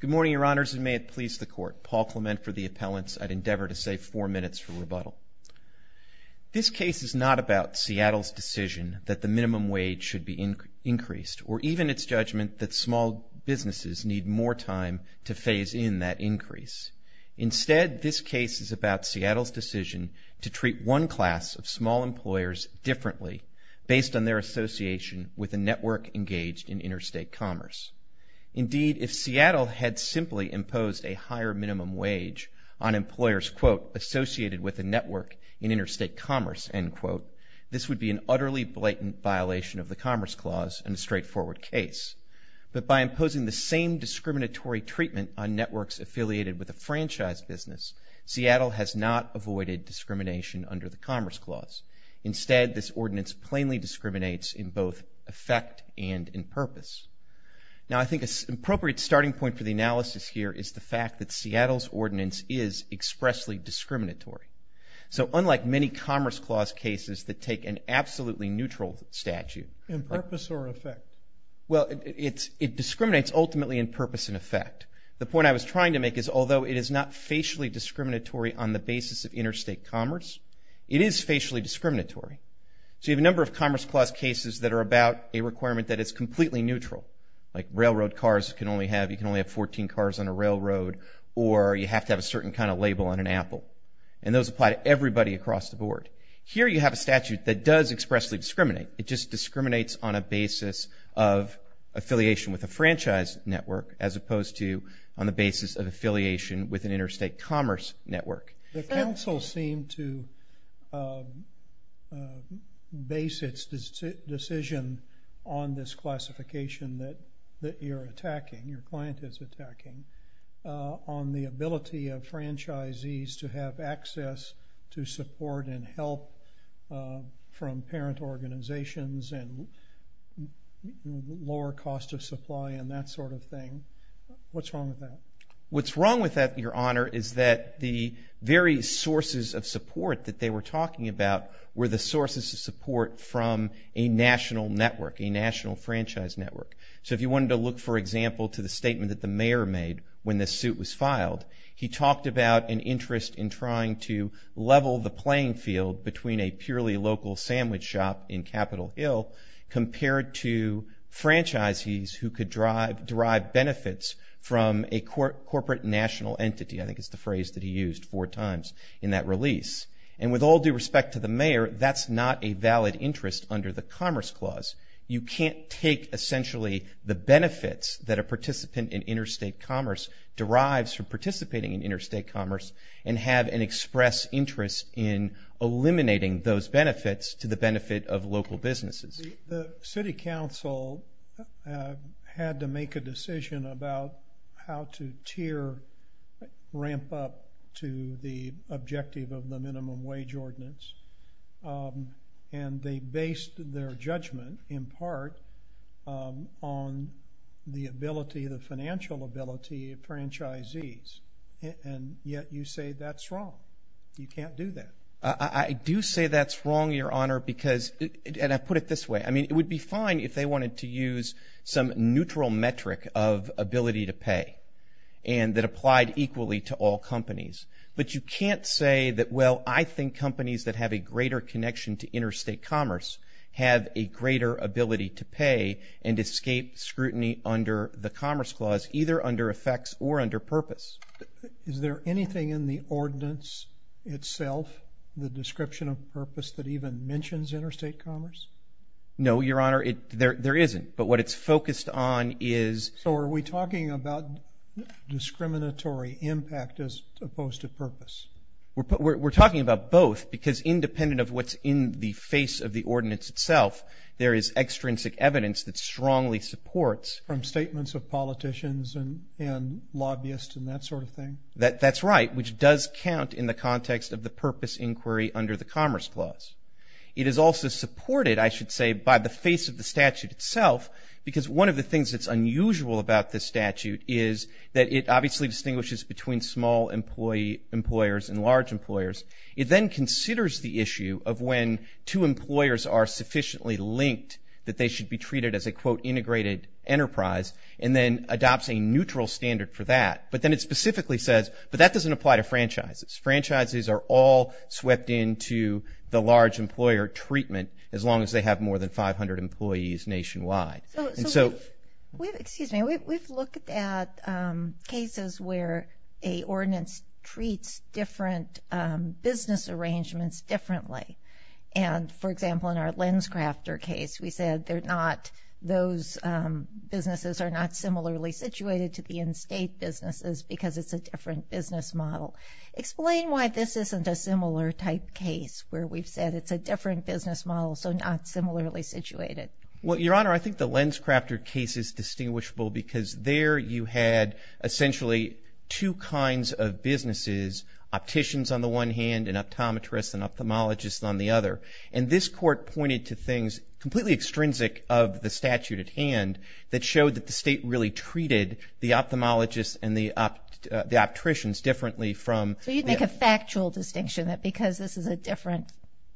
Good morning, Your Honors, and may it please the Court. Paul Clement for the Appellants. I'd endeavor to save four minutes for rebuttal. This case is not about Seattle's decision that the minimum wage should be increased, or even its judgment that small businesses need more time to phase in that increase. Instead, this case is about Seattle's decision to treat one class of small employers differently based on their association with a network engaged in interstate commerce. Indeed, if Seattle had simply imposed a higher minimum wage on employers, quote, associated with a network in interstate commerce, end quote, this would be an utterly blatant violation of the Commerce Clause and a straightforward case. But by imposing the same discriminatory treatment on networks affiliated with a franchise business, Seattle has not avoided discrimination under the Commerce Clause. Instead, this ordinance plainly discriminates in both effect and in purpose. Now, I think an appropriate starting point for the analysis here is the fact that Seattle's ordinance is expressly discriminatory. So unlike many Commerce Clause cases that take an absolutely neutral statute... In purpose or effect? Well, it discriminates ultimately in purpose and effect. The point I was trying to make is although it is not facially discriminatory on the basis of interstate commerce, it is facially discriminatory. So you have a number of Commerce Clause cases that are about a requirement that is completely neutral, like railroad cars can only have, you can only have 14 cars on a railroad, or you have to have a certain kind of label on an apple. And those apply to everybody across the board. Here you have a statute that does expressly discriminate. It just discriminates on a basis of affiliation with a franchise network as opposed to on the basis of affiliation with an interstate commerce network. The council seemed to base its decision on this classification that you're attacking, your client is attacking, on the ability of franchisees to have access to support and help from parent organizations and lower cost of supply and that sort of thing. What's wrong with that? Your Honor, is that the very sources of support that they were talking about were the sources of support from a national network, a national franchise network. So if you wanted to look, for example, to the statement that the mayor made when this suit was filed, he talked about an interest in trying to level the playing field between a purely local sandwich shop in Capitol Hill compared to franchisees who could derive benefits from a corporate national entity. I think it's the phrase that he used four times in that release. And with all due respect to the mayor, that's not a valid interest under the Commerce Clause. You can't take essentially the benefits that a participant in interstate commerce derives from participating in interstate commerce and have an express interest in eliminating those benefits to the benefit of local businesses. The city council had to make a decision about how to tier, ramp up to the objective of the minimum wage ordinance, and they based their judgment in part on the ability, the financial ability of franchisees. And yet you say that's wrong. You can't do that. I do say that's wrong, Your Honor, because, and I put it this way. I mean, it would be fine if they wanted to use some neutral metric of ability to pay and that applied equally to all companies. But you can't say that, well, I think companies that have a greater connection to interstate commerce have a greater ability to pay and escape scrutiny under the Commerce Clause, either under effects or under purpose. Is there anything in the ordinance itself, the description of purpose, that even mentions interstate commerce? No, Your Honor, there isn't. But what it's focused on is. So are we talking about discriminatory impact as opposed to purpose? We're talking about both because independent of what's in the face of the ordinance itself, there is extrinsic evidence that strongly supports. From statements of politicians and lobbyists and that sort of thing? That's right, which does count in the context of the purpose inquiry under the Commerce Clause. It is also supported, I should say, by the face of the statute itself because one of the things that's unusual about this statute is that it obviously distinguishes between small employers and large employers. It then considers the issue of when two employers are sufficiently linked that they should be treated as a, quote, integrated enterprise and then adopts a neutral standard for that. But then it specifically says, but that doesn't apply to franchises. Franchises are all swept into the large employer treatment as long as they have more than 500 employees nationwide. Excuse me. We've looked at cases where a ordinance treats different business arrangements differently. And, for example, in our LensCrafter case, we said those businesses are not similarly situated to the in-state businesses because it's a different business model. Explain why this isn't a similar type case where we've said it's a different business model, so not similarly situated. Well, Your Honor, I think the LensCrafter case is distinguishable because there you had essentially two kinds of businesses, opticians on the one hand and optometrists and ophthalmologists on the other. And this court pointed to things completely extrinsic of the statute at hand that showed that the state really treated the ophthalmologists and the opticians differently from the- So you'd make a factual distinction that because this is a different,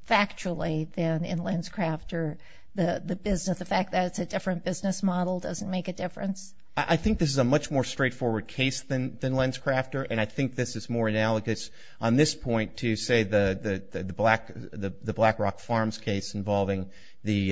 factually, than in LensCrafter, the fact that it's a different business model doesn't make a difference? I think this is a much more straightforward case than LensCrafter, and I think this is more analogous on this point to, say, the Black Rock Farms case involving the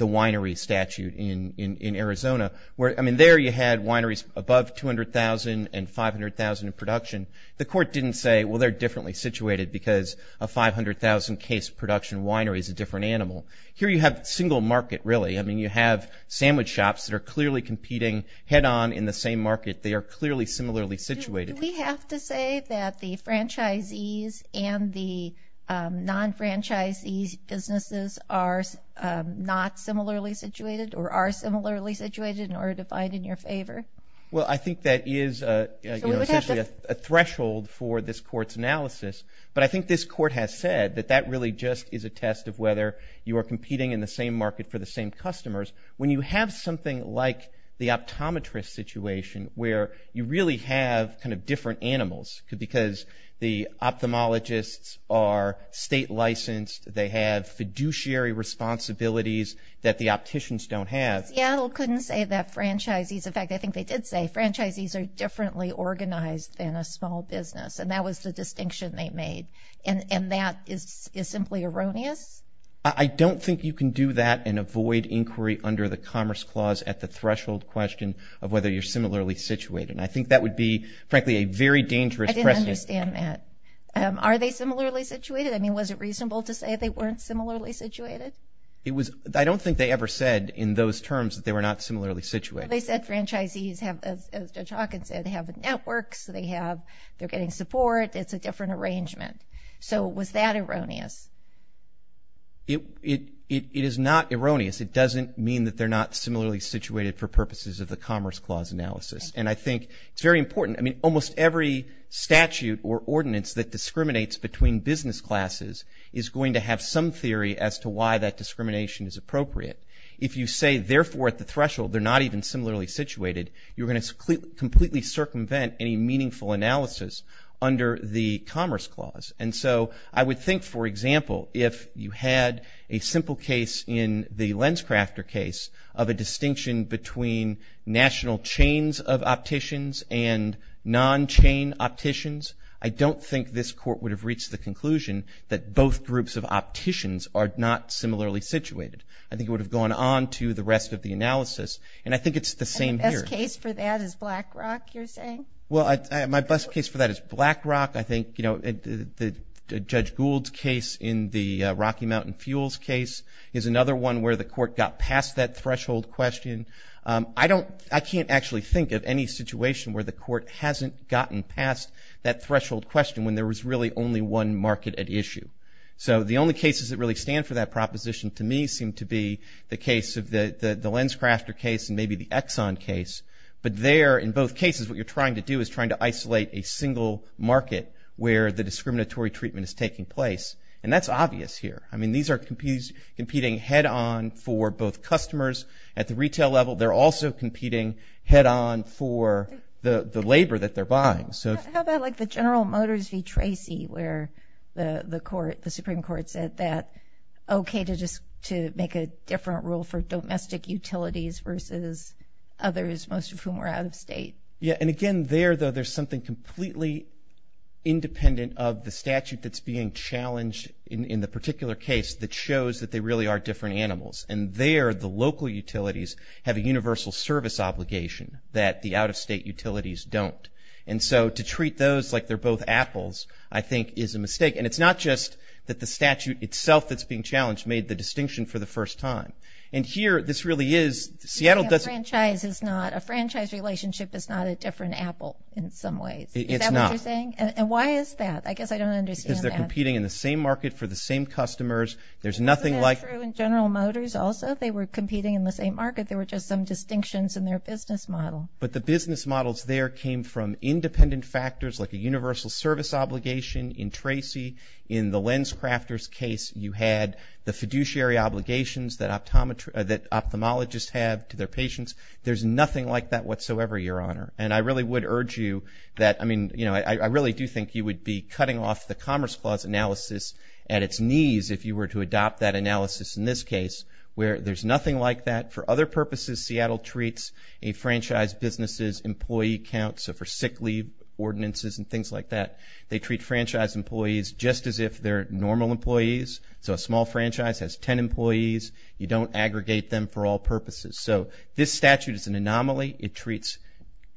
winery statute in Arizona. I mean, there you had wineries above 200,000 and 500,000 in production. The court didn't say, well, they're differently situated because a 500,000-case production winery is a different animal. Here you have single market, really. I mean, you have sandwich shops that are clearly competing head-on in the same market. They are clearly similarly situated. Do we have to say that the franchisees and the non-franchisee businesses are not similarly situated or are similarly situated in order to find in your favor? Well, I think that is essentially a threshold for this court's analysis, but I think this court has said that that really just is a test of whether you are competing in the same market for the same customers. When you have something like the optometrist situation where you really have kind of different animals because the ophthalmologists are state-licensed, they have fiduciary responsibilities that the opticians don't have. Seattle couldn't say that franchisees – in fact, I think they did say franchisees are differently organized than a small business, and that was the distinction they made, and that is simply erroneous? I don't think you can do that and avoid inquiry under the Commerce Clause at the threshold question of whether you're similarly situated, and I think that would be, frankly, a very dangerous precedent. I didn't understand that. Are they similarly situated? I mean, was it reasonable to say they weren't similarly situated? I don't think they ever said in those terms that they were not similarly situated. Well, they said franchisees, as Judge Hawkins said, have networks, they're getting support, it's a different arrangement. So was that erroneous? It is not erroneous. It doesn't mean that they're not similarly situated for purposes of the Commerce Clause analysis, and I think it's very important. I mean, almost every statute or ordinance that discriminates between business classes is going to have some theory as to why that discrimination is appropriate. If you say, therefore, at the threshold they're not even similarly situated, you're going to completely circumvent any meaningful analysis under the Commerce Clause. And so I would think, for example, if you had a simple case in the LensCrafter case of a distinction between national chains of opticians and non-chain opticians, I don't think this Court would have reached the conclusion that both groups of opticians are not similarly situated. I think it would have gone on to the rest of the analysis, and I think it's the same here. And the best case for that is BlackRock, you're saying? Well, my best case for that is BlackRock. I think, you know, Judge Gould's case in the Rocky Mountain Fuels case is another one where the Court got past that threshold question. I can't actually think of any situation where the Court hasn't gotten past that threshold question when there was really only one market at issue. So the only cases that really stand for that proposition to me seem to be the case of the LensCrafter case and maybe the Exxon case. But there, in both cases, what you're trying to do is trying to isolate a single market where the discriminatory treatment is taking place. And that's obvious here. I mean, these are competing head-on for both customers at the retail level. They're also competing head-on for the labor that they're buying. How about, like, the General Motors v. Tracy where the Supreme Court said that okay to make a different rule for domestic utilities versus others, most of whom are out-of-state? Yeah, and again, there, though, there's something completely independent of the statute that's being challenged in the particular case that shows that they really are different animals. And there, the local utilities have a universal service obligation that the out-of-state utilities don't. And so to treat those like they're both apples, I think, is a mistake. And it's not just that the statute itself that's being challenged made the distinction for the first time. And here, this really is. A franchise relationship is not a different apple in some ways. Is that what you're saying? And why is that? I guess I don't understand that. Because they're competing in the same market for the same customers. Isn't that true in General Motors also? They were competing in the same market. There were just some distinctions in their business model. But the business models there came from independent factors like a universal service obligation. In Tracy, in the LensCrafters case, you had the fiduciary obligations that ophthalmologists have to their patients. There's nothing like that whatsoever, Your Honor. And I really would urge you that, I mean, you know, I really do think you would be cutting off the Commerce Clause analysis at its knees if you were to adopt that analysis in this case where there's nothing like that. For other purposes, Seattle treats a franchise business's employee count, so for sick leave ordinances and things like that, they treat franchise employees just as if they're normal employees. So a small franchise has 10 employees. You don't aggregate them for all purposes. So this statute is an anomaly. It treats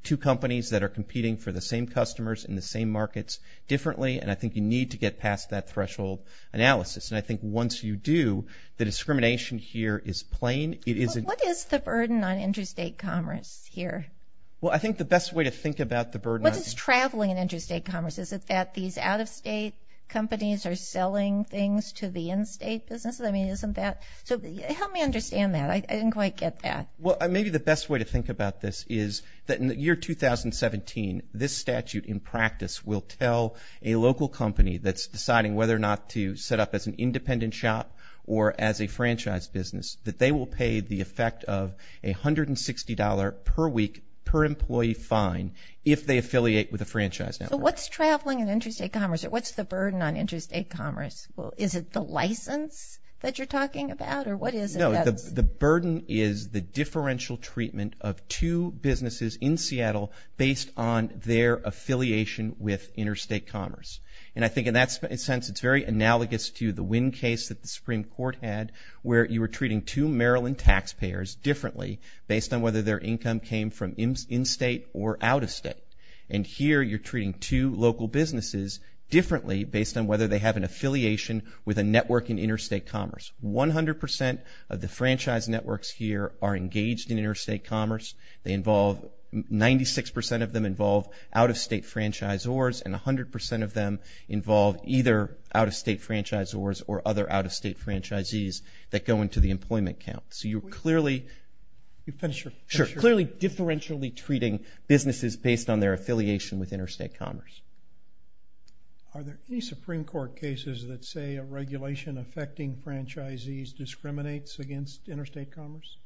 two companies that are competing for the same customers in the same markets differently. And I think you need to get past that threshold analysis. And I think once you do, the discrimination here is plain. What is the burden on interstate commerce here? Well, I think the best way to think about the burden on interstate commerce is that these out-of-state companies are selling things to the in-state businesses. I mean, isn't that – so help me understand that. I didn't quite get that. Well, maybe the best way to think about this is that in the year 2017, this statute in practice will tell a local company that's deciding whether or not to set up as an independent shop or as a franchise business that they will pay the effect of $160 per week per employee fine if they affiliate with a franchise network. So what's traveling and interstate commerce, or what's the burden on interstate commerce? Is it the license that you're talking about, or what is it? No, the burden is the differential treatment of two businesses in Seattle based on their affiliation with interstate commerce. And I think in that sense it's very analogous to the Wynn case that the Supreme Court had where you were treating two Maryland taxpayers differently based on whether their income came from in-state or out-of-state. And here you're treating two local businesses differently based on whether they have an affiliation with a network in interstate commerce. One hundred percent of the franchise networks here are engaged in interstate commerce. Ninety-six percent of them involve out-of-state franchisors, and a hundred percent of them involve either out-of-state franchisors or other out-of-state franchisees that go into the employment count. So you're clearly differentially treating businesses based on their affiliation with interstate commerce. Are there any Supreme Court cases that say a regulation affecting franchisees discriminates against interstate commerce?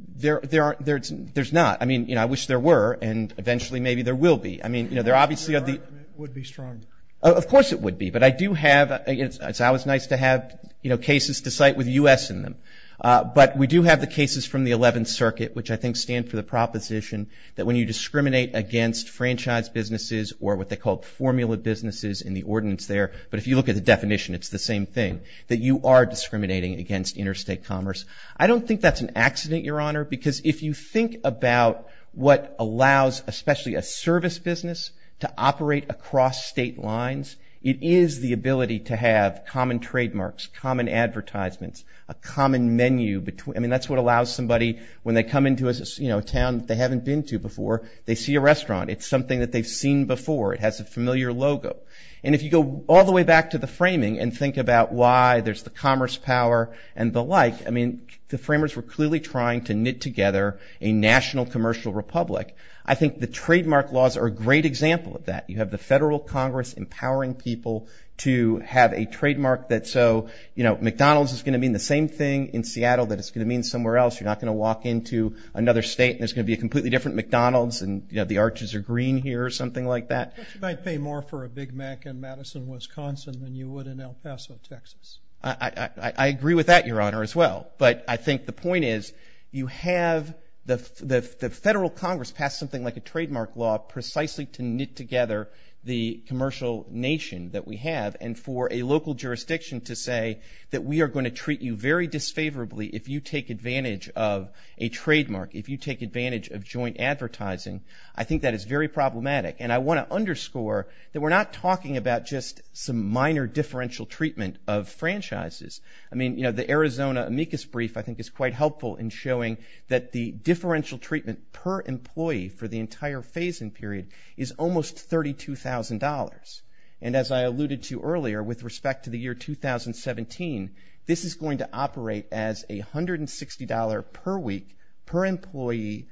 There's not. I mean, you know, I wish there were, and eventually maybe there will be. I mean, you know, there obviously are the... It would be strong. Of course it would be. But I do have, it's always nice to have, you know, cases to cite with U.S. in them. But we do have the cases from the 11th Circuit, which I think stand for the proposition that when you discriminate against franchise businesses or what they call formula businesses in the ordinance there, but if you look at the definition it's the same thing, that you are discriminating against interstate commerce. I don't think that's an accident, Your Honor, because if you think about what allows especially a service business to operate across state lines, it is the ability to have common trademarks, common advertisements, a common menu. I mean, that's what allows somebody when they come into a town that they haven't been to before, they see a restaurant. It's something that they've seen before. It has a familiar logo. And if you go all the way back to the framing and think about why there's the commerce power and the like, I mean, the framers were clearly trying to knit together a national commercial republic. I think the trademark laws are a great example of that. You have the federal Congress empowering people to have a trademark that's so, you know, McDonald's is going to mean the same thing in Seattle that it's going to mean somewhere else. You're not going to walk into another state and there's going to be a completely different McDonald's and, you know, the arches are green here or something like that. But you might pay more for a Big Mac in Madison, Wisconsin, than you would in El Paso, Texas. I agree with that, Your Honor, as well. But I think the point is you have the federal Congress pass something like a trademark law precisely to knit together the commercial nation that we have. And for a local jurisdiction to say that we are going to treat you very disfavorably if you take advantage of a trademark, if you take advantage of joint advertising, I think that is very problematic. And I want to underscore that we're not talking about just some minor differential treatment of franchises. I mean, you know, the Arizona amicus brief I think is quite helpful in showing that the differential treatment per employee for the entire phasing period is almost $32,000. And as I alluded to earlier, with respect to the year 2017, this is going to operate as $160 per week per employee,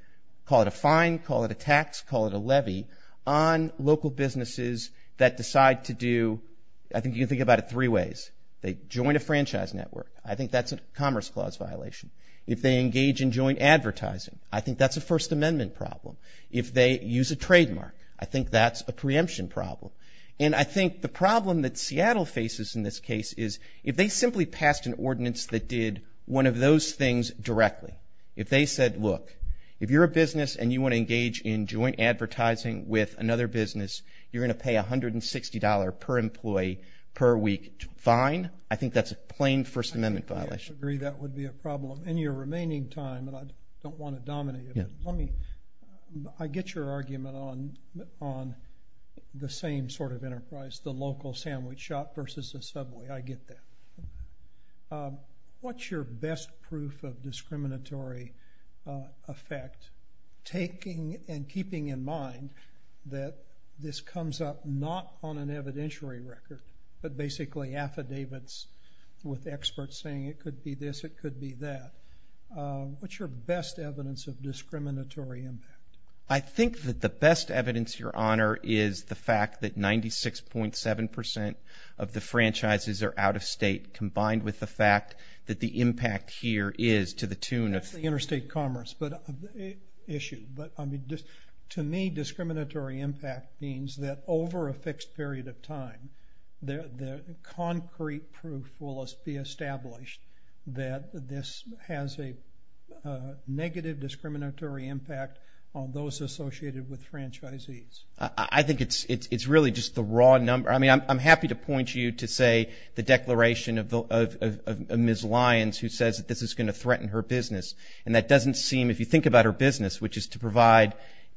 call it a fine, call it a tax, call it a levy, on local businesses that decide to do, I think you can think about it three ways. They join a franchise network. I think that's a Commerce Clause violation. If they engage in joint advertising, I think that's a First Amendment problem. If they use a trademark, I think that's a preemption problem. And I think the problem that Seattle faces in this case is if they simply passed an ordinance that did one of those things directly, if they said, look, if you're a business and you want to engage in joint advertising with another business, you're going to pay $160 per employee per week fine. I think that's a plain First Amendment violation. I agree that would be a problem. In your remaining time, and I don't want to dominate it, I get your argument on the same sort of enterprise, the local sandwich shop versus the subway. I get that. What's your best proof of discriminatory effect, taking and keeping in mind that this comes up not on an evidentiary record, but basically affidavits with experts saying it could be this, it could be that? What's your best evidence of discriminatory impact? I think that the best evidence, Your Honor, is the fact that 96.7% of the franchises are out-of-state combined with the fact that the impact here is to the tune of— That's the interstate commerce issue. To me, discriminatory impact means that over a fixed period of time, the concrete proof will be established that this has a negative discriminatory impact on those associated with franchisees. I think it's really just the raw number. I mean, I'm happy to point you to, say, the declaration of Ms. Lyons who says that this is going to threaten her business, and that doesn't seem, if you think about her business, which is to provide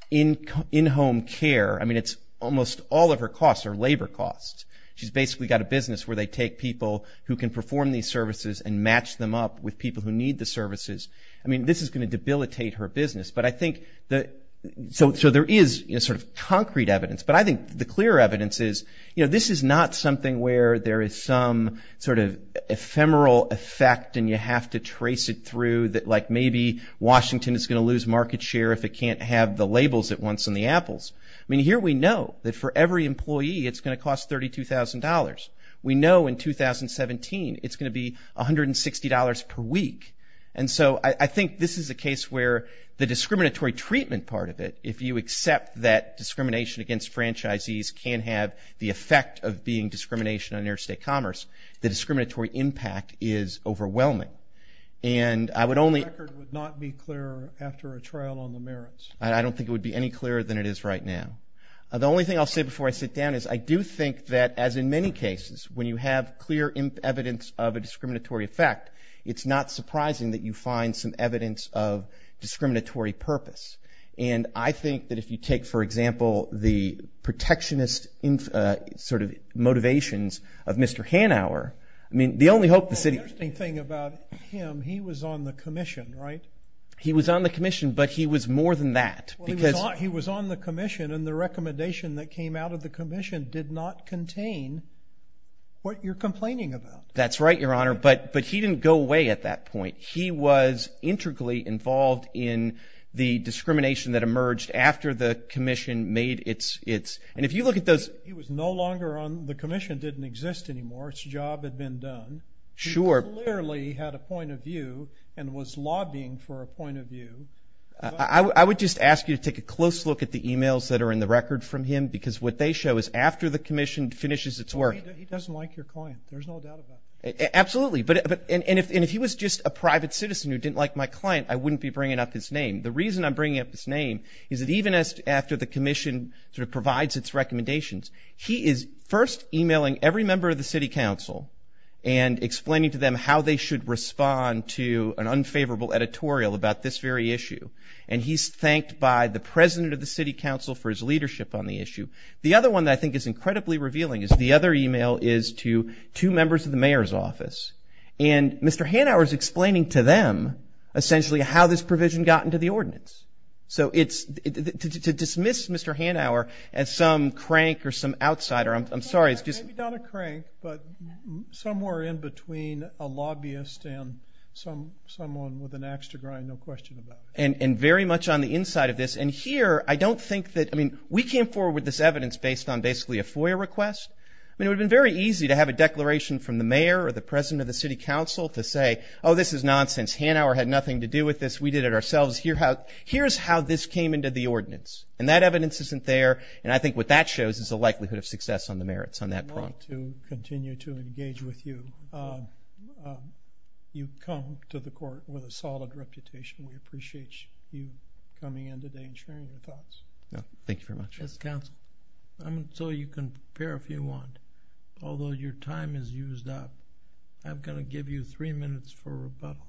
in-home care. I mean, it's almost all of her costs are labor costs. She's basically got a business where they take people who can perform these services and match them up with people who need the services. I mean, this is going to debilitate her business, but I think that—so there is sort of concrete evidence, but I think the clear evidence is, you know, this is not something where there is some sort of ephemeral effect and you have to trace it through that, like, maybe Washington is going to lose market share if it can't have the labels it wants on the apples. I mean, here we know that for every employee it's going to cost $32,000. We know in 2017 it's going to be $160 per week. And so I think this is a case where the discriminatory treatment part of it, if you accept that discrimination against franchisees can have the effect of being discrimination on interstate commerce, the discriminatory impact is overwhelming. And I would only— The record would not be clearer after a trial on the merits. I don't think it would be any clearer than it is right now. The only thing I'll say before I sit down is I do think that, as in many cases, when you have clear evidence of a discriminatory effect, it's not surprising that you find some evidence of discriminatory purpose. And I think that if you take, for example, the protectionist sort of motivations of Mr. Hanauer, I mean, the only hope the city— Well, the interesting thing about him, he was on the commission, right? He was on the commission, but he was more than that because— Well, he was on the commission, and the recommendation that came out of the commission did not contain what you're complaining about. That's right, Your Honor, but he didn't go away at that point. He was integrally involved in the discrimination that emerged after the commission made its— And if you look at those— He was no longer on—the commission didn't exist anymore. Its job had been done. Sure. He clearly had a point of view and was lobbying for a point of view. I would just ask you to take a close look at the emails that are in the record from him because what they show is after the commission finishes its work— Absolutely, and if he was just a private citizen who didn't like my client, I wouldn't be bringing up his name. The reason I'm bringing up his name is that even after the commission sort of provides its recommendations, he is first emailing every member of the city council and explaining to them how they should respond to an unfavorable editorial about this very issue, and he's thanked by the president of the city council for his leadership on the issue. The other one that I think is incredibly revealing is the other email is to two members of the mayor's office, and Mr. Hanauer is explaining to them essentially how this provision got into the ordinance. So to dismiss Mr. Hanauer as some crank or some outsider, I'm sorry— Maybe not a crank, but somewhere in between a lobbyist and someone with an ax to grind, no question about it. And very much on the inside of this. And here, I don't think that—I mean, we came forward with this evidence based on basically a FOIA request. I mean, it would have been very easy to have a declaration from the mayor or the president of the city council to say, oh, this is nonsense. Hanauer had nothing to do with this. We did it ourselves. Here's how this came into the ordinance. And that evidence isn't there, and I think what that shows is the likelihood of success on the merits on that front. I want to continue to engage with you. You come to the court with a solid reputation. We appreciate you coming in today and sharing your thoughts. Thank you very much. Yes, counsel. So you can prepare if you want, although your time is used up. I'm going to give you three minutes for rebuttal.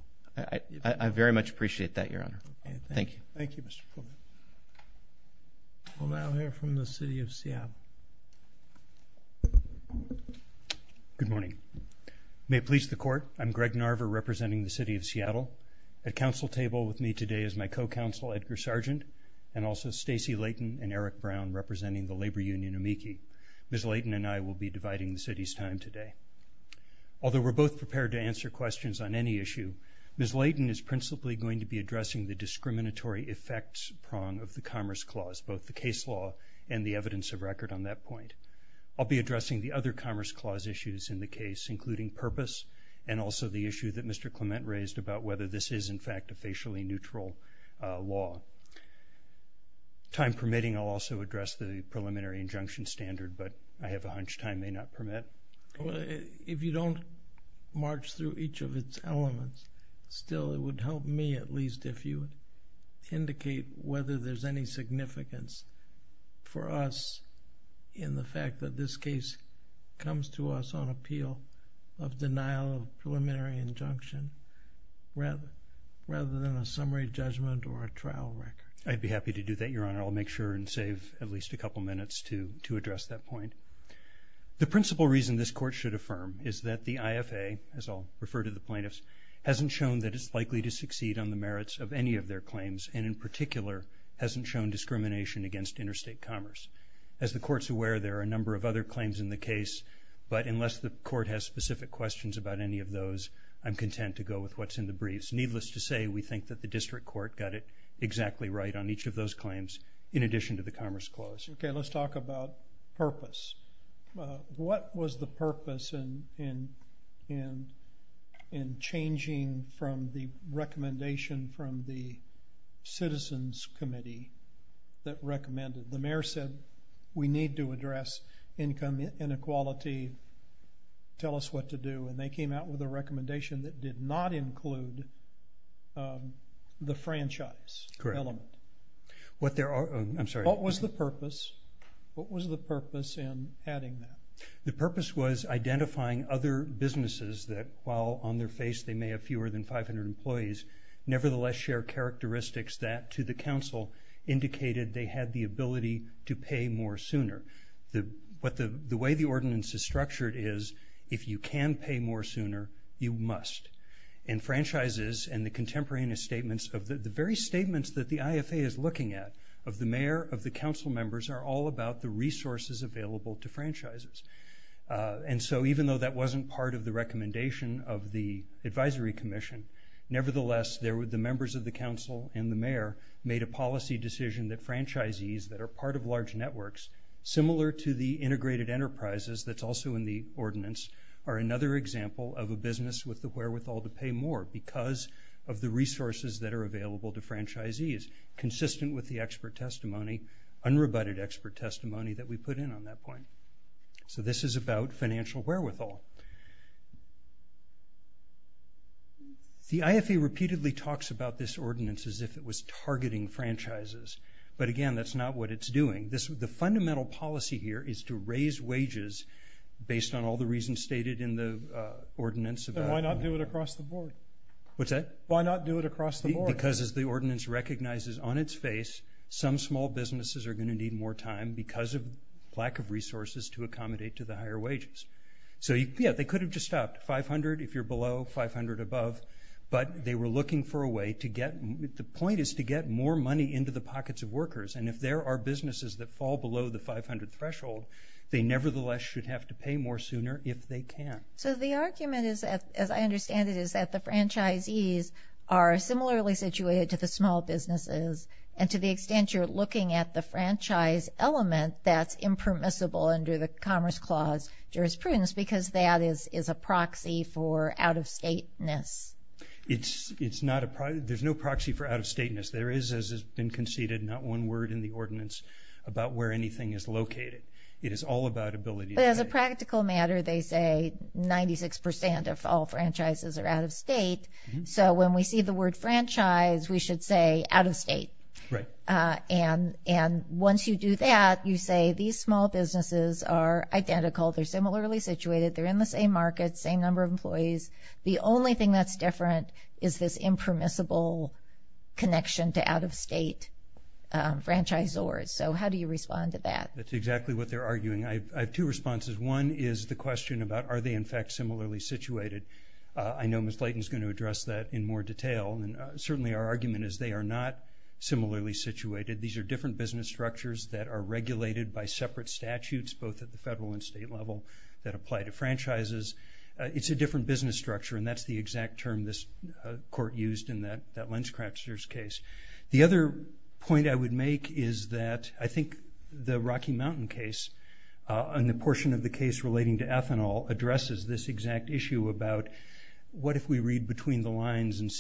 I very much appreciate that, Your Honor. Thank you. Thank you, Mr. Clement. We'll now hear from the city of Seattle. Good morning. May it please the court, I'm Greg Narver representing the city of Seattle. At council table with me today is my co-counsel, Edgar Sargent, and also Stacey Layton and Eric Brown representing the labor union, AMIKI. Ms. Layton and I will be dividing the city's time today. Although we're both prepared to answer questions on any issue, Ms. Layton is principally going to be addressing the discriminatory effects prong of the Commerce Clause, both the case law and the evidence of record on that point. I'll be addressing the other Commerce Clause issues in the case, including purpose and also the issue that Mr. Clement raised about whether this is, in fact, a facially neutral law. Time permitting, I'll also address the preliminary injunction standard, but I have a hunch time may not permit. If you don't march through each of its elements, still it would help me at least if you indicate whether there's any significance for us in the fact that this case comes to us on appeal of denial of preliminary injunction rather than a summary judgment or a trial record. I'd be happy to do that, Your Honor. I'll make sure and save at least a couple minutes to address that point. The principal reason this court should affirm is that the IFA, as I'll refer to the plaintiffs, hasn't shown that it's likely to succeed on the merits of any of their claims and in particular hasn't shown discrimination against interstate commerce. As the court's aware, there are a number of other claims in the case, but unless the court has specific questions about any of those, I'm content to go with what's in the briefs. Needless to say, we think that the district court got it exactly right on each of those claims in addition to the Commerce Clause. Okay, let's talk about purpose. What was the purpose in changing from the recommendation from the Citizens Committee that recommended? The mayor said, we need to address income inequality. Tell us what to do. And they came out with a recommendation that did not include the franchise element. Correct. I'm sorry. What was the purpose? What was the purpose in adding that? The purpose was identifying other businesses that, while on their face they may have fewer than 500 employees, nevertheless share characteristics that, to the council, indicated they had the ability to pay more sooner. The way the ordinance is structured is, if you can pay more sooner, you must. And franchises and the contemporaneous statements of the very statements that the IFA is looking at, of the mayor, of the council members, are all about the resources available to franchises. And so even though that wasn't part of the recommendation of the Advisory Commission, nevertheless the members of the council and the mayor made a policy decision that franchisees that are part of large networks, similar to the integrated enterprises that's also in the ordinance, are another example of a business with the wherewithal to pay more because of the resources that are available to franchisees, consistent with the expert testimony, unrebutted expert testimony that we put in on that point. So this is about financial wherewithal. The IFA repeatedly talks about this ordinance as if it was targeting franchises. But again, that's not what it's doing. The fundamental policy here is to raise wages based on all the reasons stated in the ordinance. Then why not do it across the board? What's that? Why not do it across the board? Well, because as the ordinance recognizes on its face, some small businesses are going to need more time because of lack of resources to accommodate to the higher wages. So, yeah, they could have just stopped $500 if you're below, $500 above. But they were looking for a way to get, the point is to get more money into the pockets of workers. And if there are businesses that fall below the $500 threshold, they nevertheless should have to pay more sooner if they can. So the argument is, as I understand it, is that the franchisees are similarly situated to the small businesses. And to the extent you're looking at the franchise element, that's impermissible under the Commerce Clause jurisprudence because that is a proxy for out-of-stateness. It's not a proxy. There's no proxy for out-of-stateness. There is, as has been conceded, not one word in the ordinance about where anything is located. It is all about ability. But as a practical matter, they say 96% of all franchises are out-of-state. So when we see the word franchise, we should say out-of-state. Right. And once you do that, you say these small businesses are identical. They're similarly situated. They're in the same market, same number of employees. The only thing that's different is this impermissible connection to out-of-state franchisors. So how do you respond to that? That's exactly what they're arguing. I have two responses. One is the question about are they, in fact, similarly situated. I know Ms. Leighton is going to address that in more detail, and certainly our argument is they are not similarly situated. These are different business structures that are regulated by separate statutes, both at the federal and state level, that apply to franchises. It's a different business structure, and that's the exact term this court used in that LensCrafters case. The other point I would make is that I think the Rocky Mountain case, and the portion of the case relating to ethanol, addresses this exact issue about what if we read between the lines and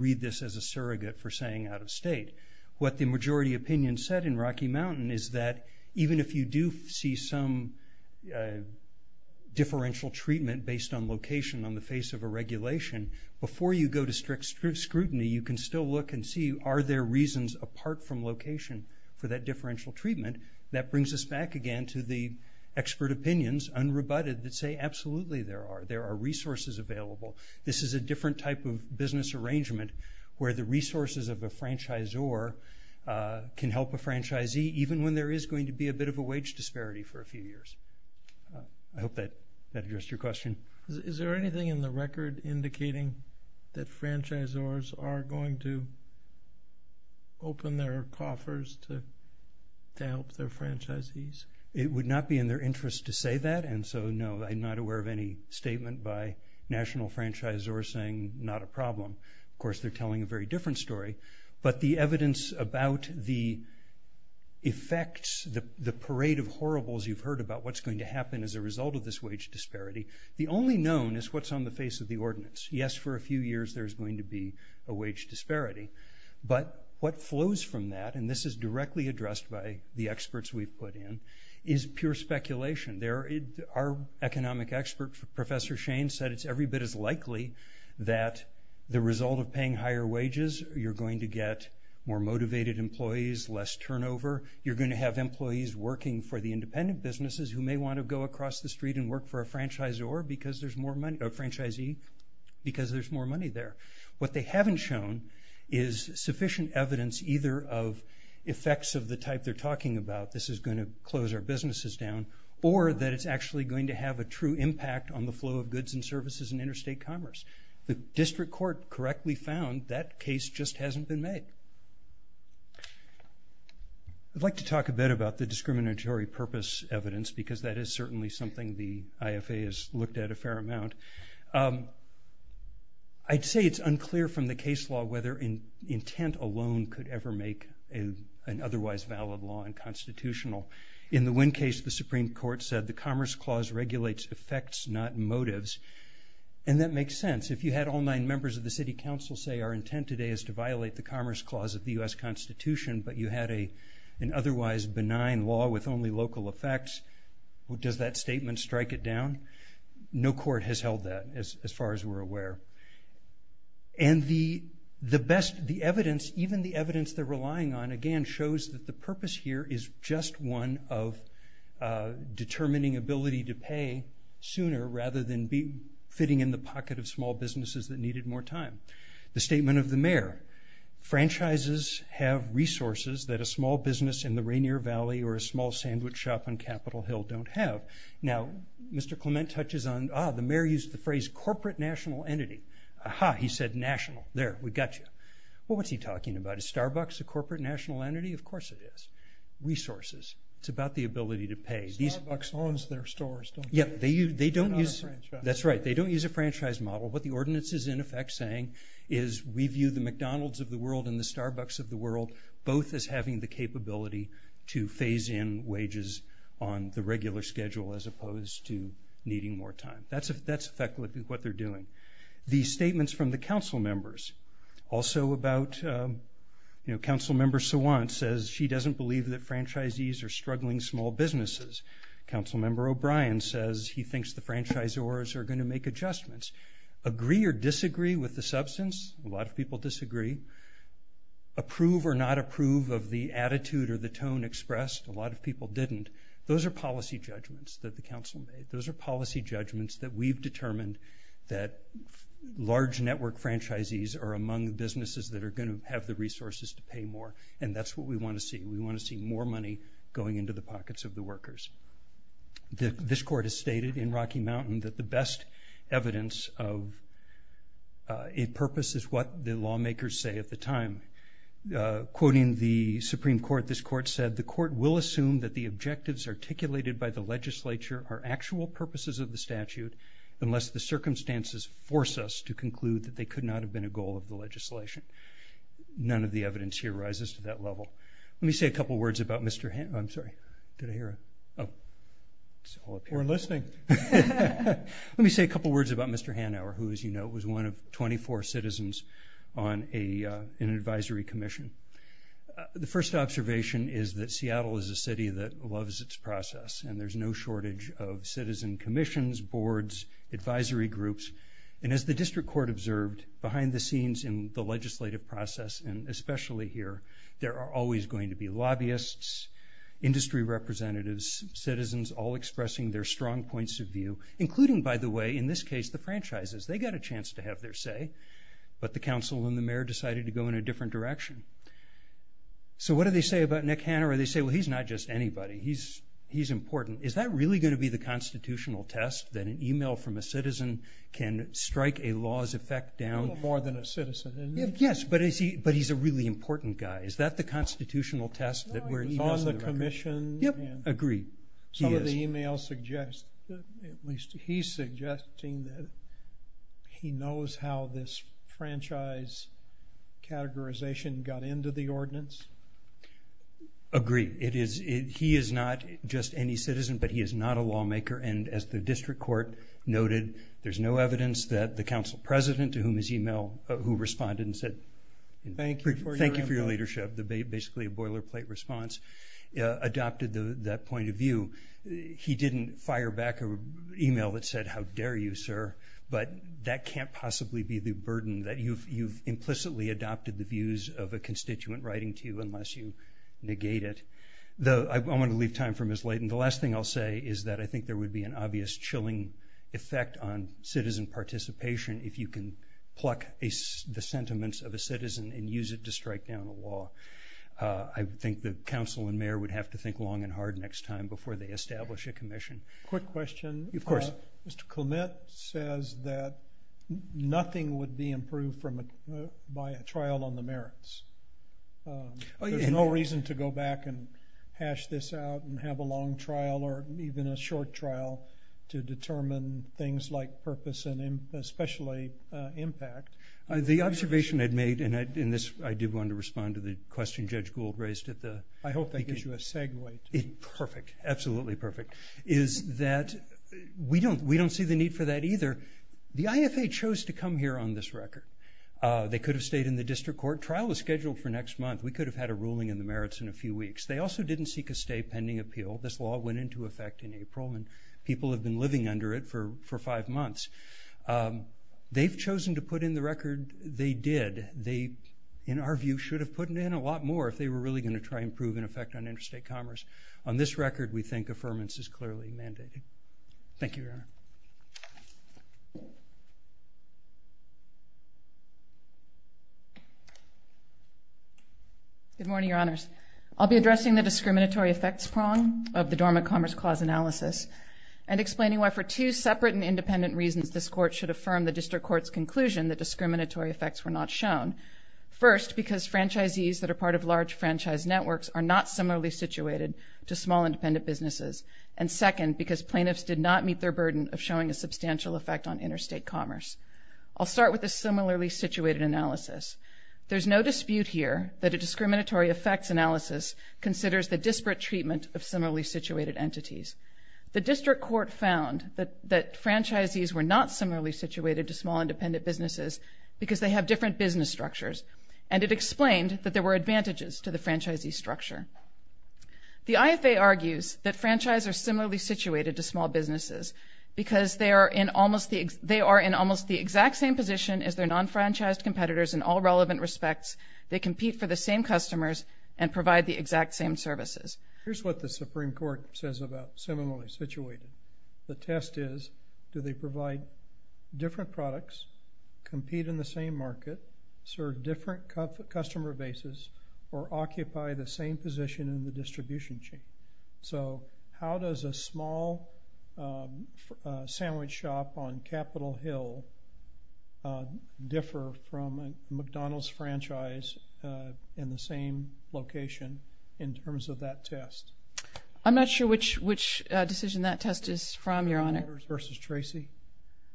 read this as a surrogate for saying out-of-state. What the majority opinion said in Rocky Mountain is that even if you do see some differential treatment based on location on the face of a regulation, before you go to strict scrutiny you can still look and see are there reasons apart from location for that differential treatment. That brings us back again to the expert opinions, unrebutted, that say absolutely there are. There are resources available. This is a different type of business arrangement where the resources of a franchisor can help a franchisee, even when there is going to be a bit of a wage disparity for a few years. I hope that addressed your question. Is there anything in the record indicating that franchisors are going to open their coffers to help their franchisees? It would not be in their interest to say that, and so no, I'm not aware of any statement by national franchisors saying not a problem. Of course, they're telling a very different story. But the evidence about the effects, the parade of horribles you've heard about what's going to happen as a result of this wage disparity, the only known is what's on the face of the ordinance. Yes, for a few years there's going to be a wage disparity, but what flows from that, and this is directly addressed by the experts we've put in, is pure speculation. Our economic expert, Professor Shane, said it's every bit as likely that the result of paying higher wages, you're going to get more motivated employees, less turnover. You're going to have employees working for the independent businesses who may want to go across the street and work for a franchisor, a franchisee, because there's more money there. What they haven't shown is sufficient evidence, either of effects of the type they're talking about, this is going to close our businesses down, or that it's actually going to have a true impact on the flow of goods and services in interstate commerce. The district court correctly found that case just hasn't been made. I'd like to talk a bit about the discriminatory purpose evidence, because that is certainly something the IFA has looked at a fair amount. I'd say it's unclear from the case law whether intent alone could ever make an otherwise valid law unconstitutional. In the Wynn case, the Supreme Court said the Commerce Clause regulates effects, not motives, and that makes sense. If you had all nine members of the city council say our intent today is to violate the Commerce Clause of the U.S. Constitution, but you had an otherwise benign law with only local effects, does that statement strike it down? No court has held that, as far as we're aware. And the best evidence, even the evidence they're relying on, again, shows that the purpose here is just one of determining ability to pay sooner rather than fitting in the pocket of small businesses that needed more time. The statement of the mayor. Franchises have resources that a small business in the Rainier Valley or a small sandwich shop on Capitol Hill don't have. Now, Mr. Clement touches on... Ah, the mayor used the phrase corporate national entity. Aha, he said national. There, we got you. Well, what's he talking about? Is Starbucks a corporate national entity? Of course it is. Resources. It's about the ability to pay. Starbucks owns their stores, don't they? Yeah, they don't use... They're not a franchise. That's right, they don't use a franchise model. What the ordinance is, in effect, saying is we view the McDonald's of the world and the Starbucks of the world both as having the capability to phase in wages on the regular schedule as opposed to needing more time. That's effectively what they're doing. The statements from the council members. Also about... You know, Council Member Sawant says she doesn't believe that franchisees are struggling small businesses. Council Member O'Brien says he thinks the franchisors are going to make adjustments. Agree or disagree with the substance? A lot of people disagree. Approve or not approve of the attitude or the tone expressed? A lot of people didn't. Those are policy judgments that the council made. Those are policy judgments that we've determined that large network franchisees are among businesses that are going to have the resources to pay more, and that's what we want to see. We want to see more money going into the pockets of the workers. This court has stated in Rocky Mountain that the best evidence of a purpose is what the lawmakers say at the time. Quoting the Supreme Court, this court said, the court will assume that the objectives articulated by the legislature are actual purposes of the statute unless the circumstances force us to conclude that they could not have been a goal of the legislation. None of the evidence here rises to that level. Let me say a couple words about Mr. Hanauer. I'm sorry, did I hear a... Oh, it's all up here. We're listening. Let me say a couple words about Mr. Hanauer, who, as you know, was one of 24 citizens in an advisory commission. The first observation is that Seattle is a city that loves its process, and there's no shortage of citizen commissions, boards, advisory groups. And as the district court observed, behind the scenes in the legislative process, and especially here, there are always going to be lobbyists, industry representatives, citizens all expressing their strong points of view, including, by the way, in this case, the franchises. They got a chance to have their say, but the council and the mayor decided to go in a different direction. So what do they say about Nick Hanauer? They say, well, he's not just anybody. He's important. Is that really going to be the constitutional test, that an email from a citizen can strike a law's effect down? A little more than a citizen. Yes, but he's a really important guy. Is that the constitutional test? No, he's on the commission. Yep, agreed. Some of the emails suggest, at least he's suggesting, that he knows how this franchise categorization got into the ordinance. Agreed. He is not just any citizen, but he is not a lawmaker, and as the district court noted, there's no evidence that the council president to whom his email, who responded and said, thank you for your leadership, basically a boilerplate response, adopted that point of view. He didn't fire back an email that said, how dare you, sir, but that can't possibly be the burden, that you've implicitly adopted the views of a constituent writing to you unless you negate it. I want to leave time for Ms. Leighton. The last thing I'll say is that I think there would be an obvious chilling effect on citizen participation if you can pluck the sentiments of a citizen and use it to strike down a law. I think the council and mayor would have to think long and hard next time before they establish a commission. Quick question. Of course. Mr. Clement says that nothing would be improved by a trial on the merits. There's no reason to go back and hash this out and have a long trial or even a short trial to determine things like purpose and especially impact. The observation I'd made, and I did want to respond to the question Judge Gould raised at the beginning. I hope that gives you a segue. Perfect. Absolutely perfect. Is that we don't see the need for that either. The IFA chose to come here on this record. They could have stayed in the district court. Trial was scheduled for next month. We could have had a ruling in the merits in a few weeks. They also didn't seek a stay pending appeal. This law went into effect in April, and people have been living under it for five months. They've chosen to put in the record they did. They, in our view, should have put in a lot more if they were really going to try and prove an effect on interstate commerce. On this record, we think affirmance is clearly mandated. Thank you, Your Honor. Good morning, Your Honors. I'll be addressing the discriminatory effects prong of the Dormant Commerce Clause analysis and explaining why for two separate and independent reasons this court should affirm the district court's conclusion that discriminatory effects were not shown. First, because franchisees that are part of large franchise networks are not similarly situated to small independent businesses. And second, because plaintiffs did not meet their burden of showing a substantial effect on interstate commerce. I'll start with a similarly situated analysis. There's no dispute here that a discriminatory effects analysis considers the disparate treatment of similarly situated entities. The district court found that franchisees were not similarly situated to small independent businesses because they have different business structures, and it explained that there were advantages to the franchisee structure. The IFA argues that franchises are similarly situated to small businesses because they are in almost the exact same position as their non-franchised competitors in all relevant respects. They compete for the same customers and provide the exact same services. Here's what the Supreme Court says about similarly situated. The test is, do they provide different products, compete in the same market, serve different customer bases, or occupy the same position in the distribution chain? So how does a small sandwich shop on Capitol Hill differ from a McDonald's franchise in the same location in terms of that test? I'm not sure which decision that test is from, Your Honor. General Motors versus Tracy?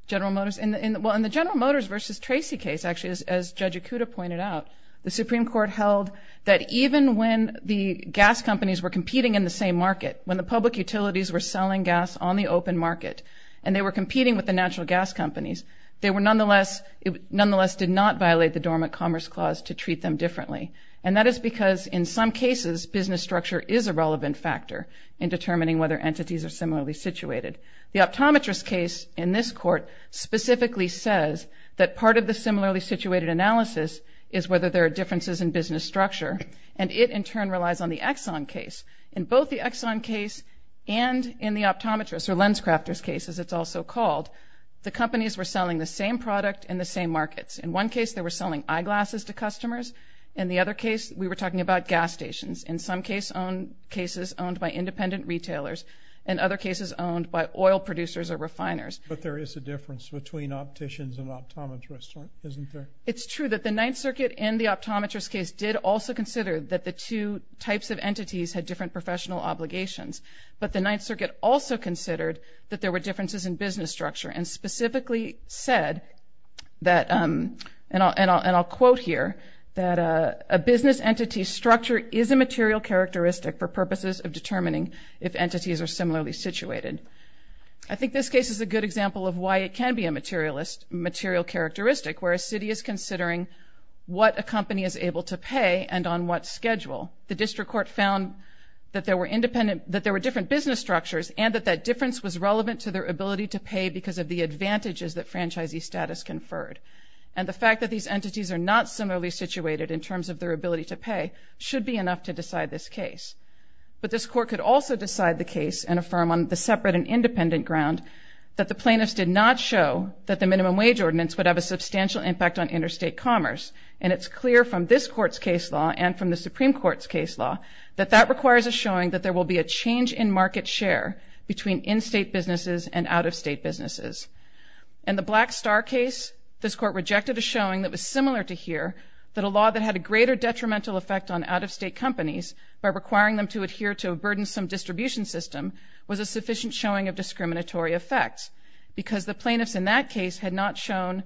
General Motors. Well, in the General Motors versus Tracy case, actually, as Judge Ikuda pointed out, the Supreme Court held that even when the gas companies were competing in the same market, when the public utilities were selling gas on the open market and they were competing with the natural gas companies, they nonetheless did not violate the Dormant Commerce Clause to treat them differently. And that is because in some cases, business structure is a relevant factor in determining whether entities are similarly situated. The optometrist case in this Court specifically says that part of the similarly situated analysis is whether there are differences in business structure, and it, in turn, relies on the Exxon case. In both the Exxon case and in the optometrist, or LensCrafters case, as it's also called, the companies were selling the same product in the same markets. In one case, they were selling eyeglasses to customers. In the other case, we were talking about gas stations. In some cases, owned by independent retailers. In other cases, owned by oil producers or refiners. But there is a difference between opticians and optometrists, isn't there? It's true that the Ninth Circuit and the optometrist case did also consider that the two types of entities had different professional obligations. But the Ninth Circuit also considered that there were differences in business structure and specifically said that, and I'll quote here, that a business entity structure is a material characteristic for purposes of determining if entities are similarly situated. I think this case is a good example of why it can be a materialist material characteristic, where a city is considering what a company is able to pay and on what schedule. The district court found that there were independent, that there were different business structures and that that difference was relevant to their ability to pay because of the advantages that franchisee status conferred. And the fact that these entities are not similarly situated in terms of their ability to pay should be enough to decide this case. But this court could also decide the case and affirm on the separate and independent ground that the plaintiffs did not show that the minimum wage ordinance would have a substantial impact on interstate commerce. And it's clear from this court's case law and from the Supreme Court's case law that that requires a showing that there will be a change in market share between in-state businesses and out-of-state businesses. In the Black Star case, this court rejected a showing that was similar to here, that a law that had a greater detrimental effect on out-of-state companies by requiring them to adhere to a burdensome distribution system was a sufficient showing of discriminatory effects because the plaintiffs in that case had not shown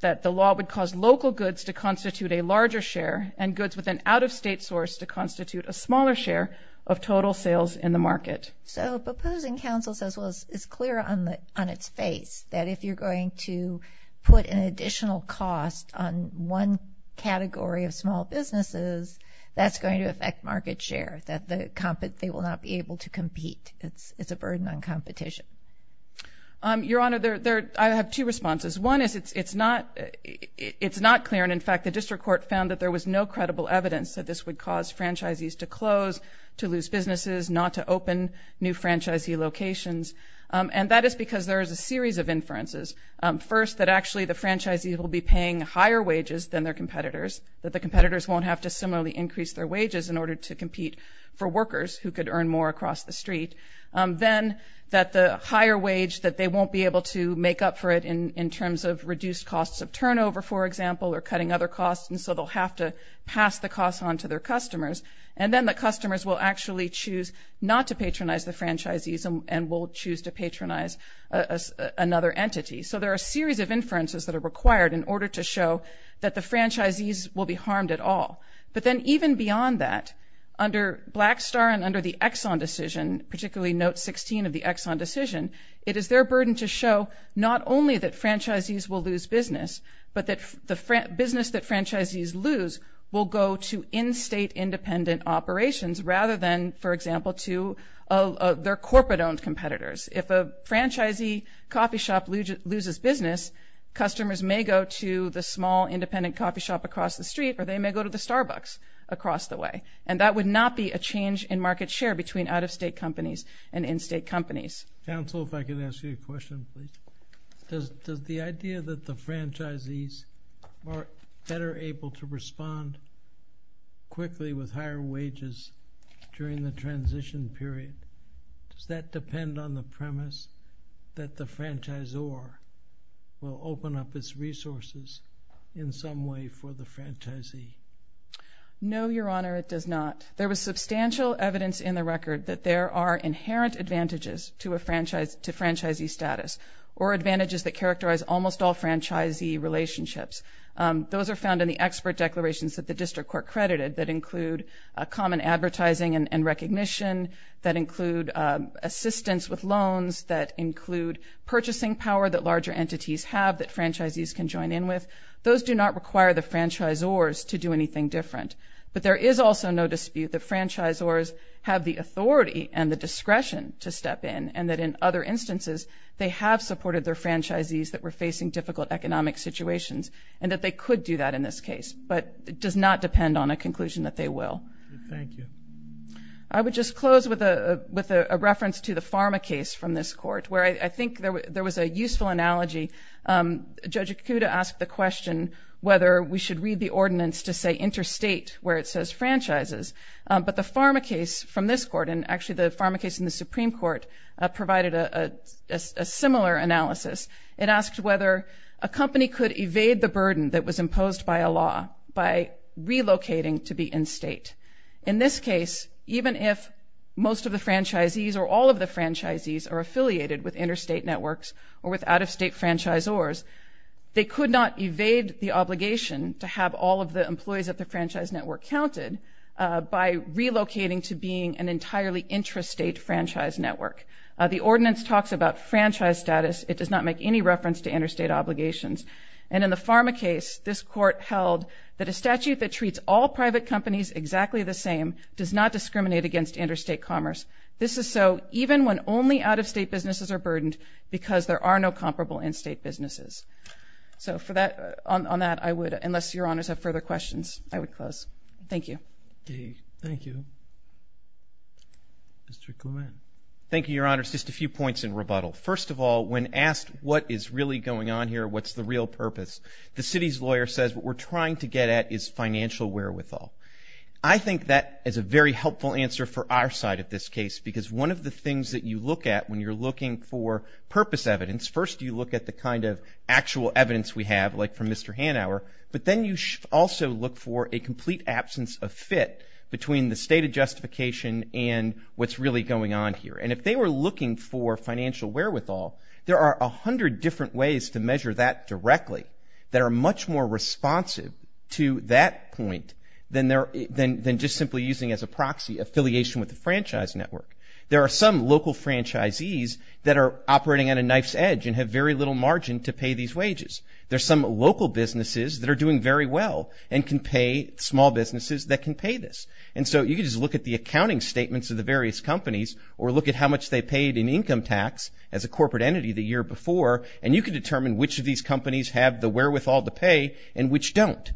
that the law would cause local goods to constitute a larger share and goods with an out-of-state source to constitute a smaller share of total sales in the market. So proposing counsel says, well, it's clear on its face that if you're going to put an additional cost on one category of small businesses, that's going to affect market share, that they will not be able to compete. It's a burden on competition. Your Honor, I have two responses. One is it's not clear, and in fact the district court found that there was no credible evidence that this would cause franchisees to close, to lose businesses, not to open new franchisee locations, and that is because there is a series of inferences. First, that actually the franchisees will be paying higher wages than their competitors, that the competitors won't have to similarly increase their wages in order to compete for workers who could earn more across the street. Then that the higher wage that they won't be able to make up for it in terms of reduced costs of turnover, for example, or cutting other costs, and so they'll have to pass the costs on to their customers. And then the customers will actually choose not to patronize the franchisees and will choose to patronize another entity. So there are a series of inferences that are required in order to show that the franchisees will be harmed at all. But then even beyond that, under Blackstar and under the Exxon decision, particularly Note 16 of the Exxon decision, it is their burden to show not only that franchisees will lose business, but that the business that franchisees lose will go to in-state independent operations rather than, for example, to their corporate-owned competitors. If a franchisee coffee shop loses business, customers may go to the small independent coffee shop across the street or they may go to the Starbucks across the way. And that would not be a change in market share between out-of-state companies and in-state companies. Counsel, if I could ask you a question, please. Does the idea that the franchisees are better able to respond quickly with higher wages during the transition period, does that depend on the premise that the franchisor will open up its resources in some way for the franchisee? No, Your Honor, it does not. There was substantial evidence in the record that there are inherent advantages to franchisee status or advantages that characterize almost all franchisee relationships. Those are found in the expert declarations that the district court credited that include common advertising and recognition, that include assistance with loans, that include purchasing power that larger entities have that franchisees can join in with. Those do not require the franchisors to do anything different. But there is also no dispute that franchisors have the authority and the discretion to step in, and that in other instances they have supported their franchisees that were facing difficult economic situations and that they could do that in this case. But it does not depend on a conclusion that they will. Thank you. I would just close with a reference to the pharma case from this court where I think there was a useful analogy. Judge Ikuda asked the question whether we should read the ordinance to say interstate where it says franchises. But the pharma case from this court, and actually the pharma case in the Supreme Court, provided a similar analysis. It asked whether a company could evade the burden that was imposed by a law by relocating to be in-state. In this case, even if most of the franchisees or all of the franchisees are affiliated with interstate networks or with out-of-state franchisors, they could not evade the obligation to have all of the employees at the franchise network counted by relocating to being an entirely intrastate franchise network. The ordinance talks about franchise status. It does not make any reference to interstate obligations. And in the pharma case, this court held that a statute that treats all private companies exactly the same does not discriminate against interstate commerce. This is so even when only out-of-state businesses are burdened because there are no comparable in-state businesses. So on that, I would, unless Your Honors have further questions, I would close. Thank you. Okay, thank you. Mr. Clement. Thank you, Your Honors. Just a few points in rebuttal. First of all, when asked what is really going on here, what's the real purpose, the city's lawyer says what we're trying to get at is financial wherewithal. I think that is a very helpful answer for our side of this case because one of the things that you look at when you're looking for purpose evidence, first you look at the kind of actual evidence we have, like from Mr. Hanauer, but then you also look for a complete absence of fit between the stated justification and what's really going on here. And if they were looking for financial wherewithal, there are 100 different ways to measure that directly that are much more responsive to that point than just simply using as a proxy affiliation with the franchise network. There are some local franchisees that are operating on a knife's edge and have very little margin to pay these wages. There are some local businesses that are doing very well and can pay small businesses that can pay this. And so you can just look at the accounting statements of the various companies or look at how much they paid in income tax as a corporate entity the year before, and you can determine which of these companies have the wherewithal to pay and which don't.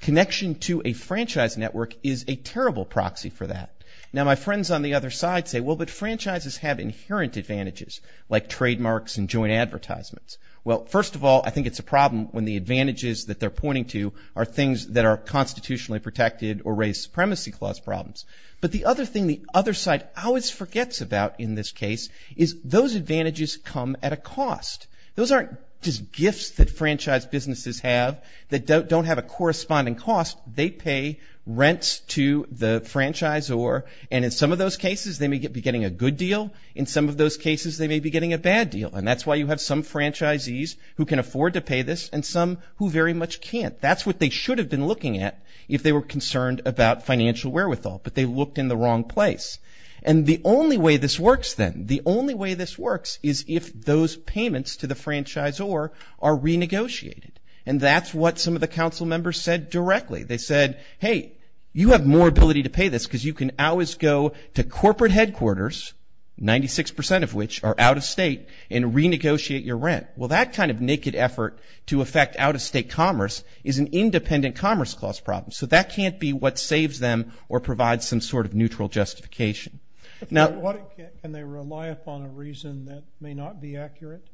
Connection to a franchise network is a terrible proxy for that. Now, my friends on the other side say, well, but franchises have inherent advantages like trademarks and joint advertisements. Well, first of all, I think it's a problem when the advantages that they're pointing to are things that are constitutionally protected or raise supremacy clause problems. But the other thing the other side always forgets about in this case is those advantages come at a cost. Those aren't just gifts that franchise businesses have that don't have a corresponding cost. They pay rents to the franchisor. And in some of those cases, they may be getting a good deal. In some of those cases, they may be getting a bad deal. And that's why you have some franchisees who can afford to pay this and some who very much can't. That's what they should have been looking at if they were concerned about financial wherewithal, but they looked in the wrong place. And the only way this works then, the only way this works is if those payments to the franchisor are renegotiated. And that's what some of the council members said directly. They said, hey, you have more ability to pay this because you can always go to corporate headquarters, 96% of which are out-of-state, and renegotiate your rent. Well, that kind of naked effort to affect out-of-state commerce is an independent commerce clause problem. So that can't be what saves them or provides some sort of neutral justification. Can they rely upon a reason that may not be accurate?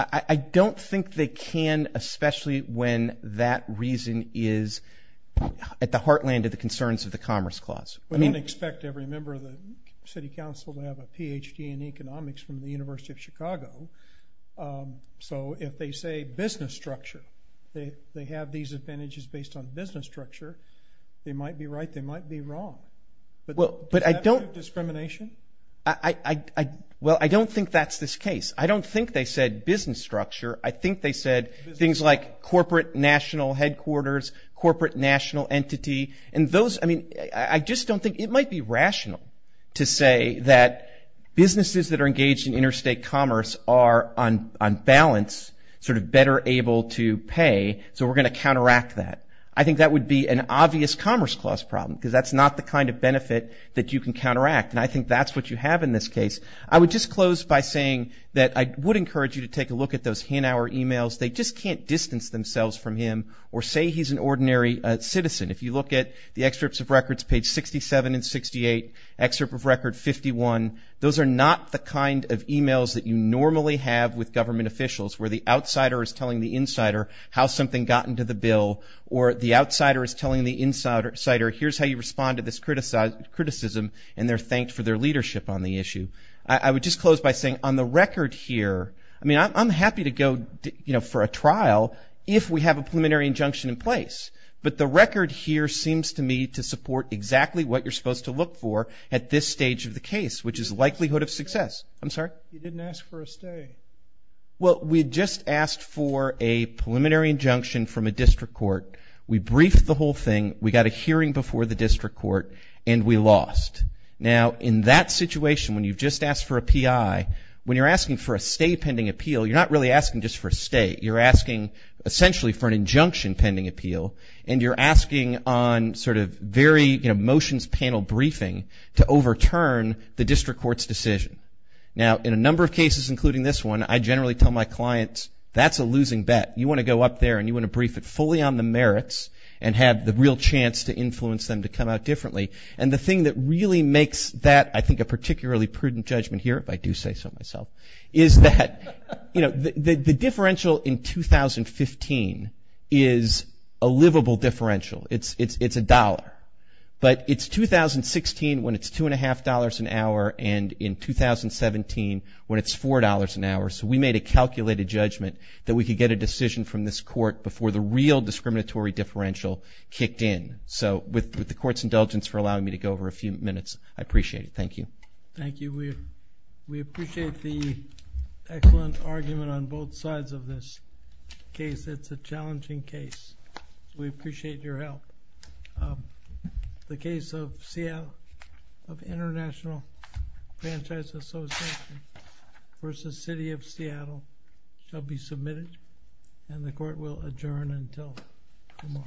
I don't think they can, especially when that reason is at the heartland of the concerns of the commerce clause. We don't expect every member of the city council to have a Ph.D. in economics from the University of Chicago. So if they say business structure, they have these advantages based on business structure, But I don't... Is that discrimination? Well, I don't think that's this case. I don't think they said business structure. I think they said things like corporate national headquarters, corporate national entity, and those... I mean, I just don't think... It might be rational to say that businesses that are engaged in interstate commerce are on balance sort of better able to pay, so we're going to counteract that. I think that would be an obvious commerce clause problem because that's not the kind of benefit that you can counteract. And I think that's what you have in this case. I would just close by saying that I would encourage you to take a look at those Hanauer emails. They just can't distance themselves from him or say he's an ordinary citizen. If you look at the excerpts of records, page 67 and 68, excerpt of record 51, those are not the kind of emails that you normally have with government officials where the outsider is telling the insider how something got into the bill or the outsider is telling the insider here's how you respond to this criticism and they're thanked for their leadership on the issue. I would just close by saying on the record here... I mean, I'm happy to go for a trial if we have a preliminary injunction in place, but the record here seems to me to support exactly what you're supposed to look for at this stage of the case, which is likelihood of success. I'm sorry? You didn't ask for a stay. Well, we just asked for a preliminary injunction from a district court. We briefed the whole thing. We got a hearing before the district court and we lost. Now, in that situation, when you've just asked for a PI, when you're asking for a stay pending appeal, you're not really asking just for a stay. You're asking essentially for an injunction pending appeal and you're asking on sort of very motions panel briefing to overturn the district court's decision. Now, in a number of cases, including this one, I generally tell my clients that's a losing bet. You want to go up there and you want to brief it fully on the merits and have the real chance to influence them to come out differently. And the thing that really makes that, I think, a particularly prudent judgment here, if I do say so myself, is that the differential in 2015 is a livable differential. It's a dollar. But it's 2016 when it's $2.50 an hour and in 2017 when it's $4.00 an hour. So we made a calculated judgment that we could get a decision from this court before the real discriminatory differential kicked in. So with the court's indulgence for allowing me to go over a few minutes, I appreciate it. Thank you. Thank you. We appreciate the excellent argument on both sides of this case. It's a challenging case. We appreciate your help. The case of Seattle of International Franchise Association v. City of Seattle shall be submitted. And the court will adjourn until tomorrow.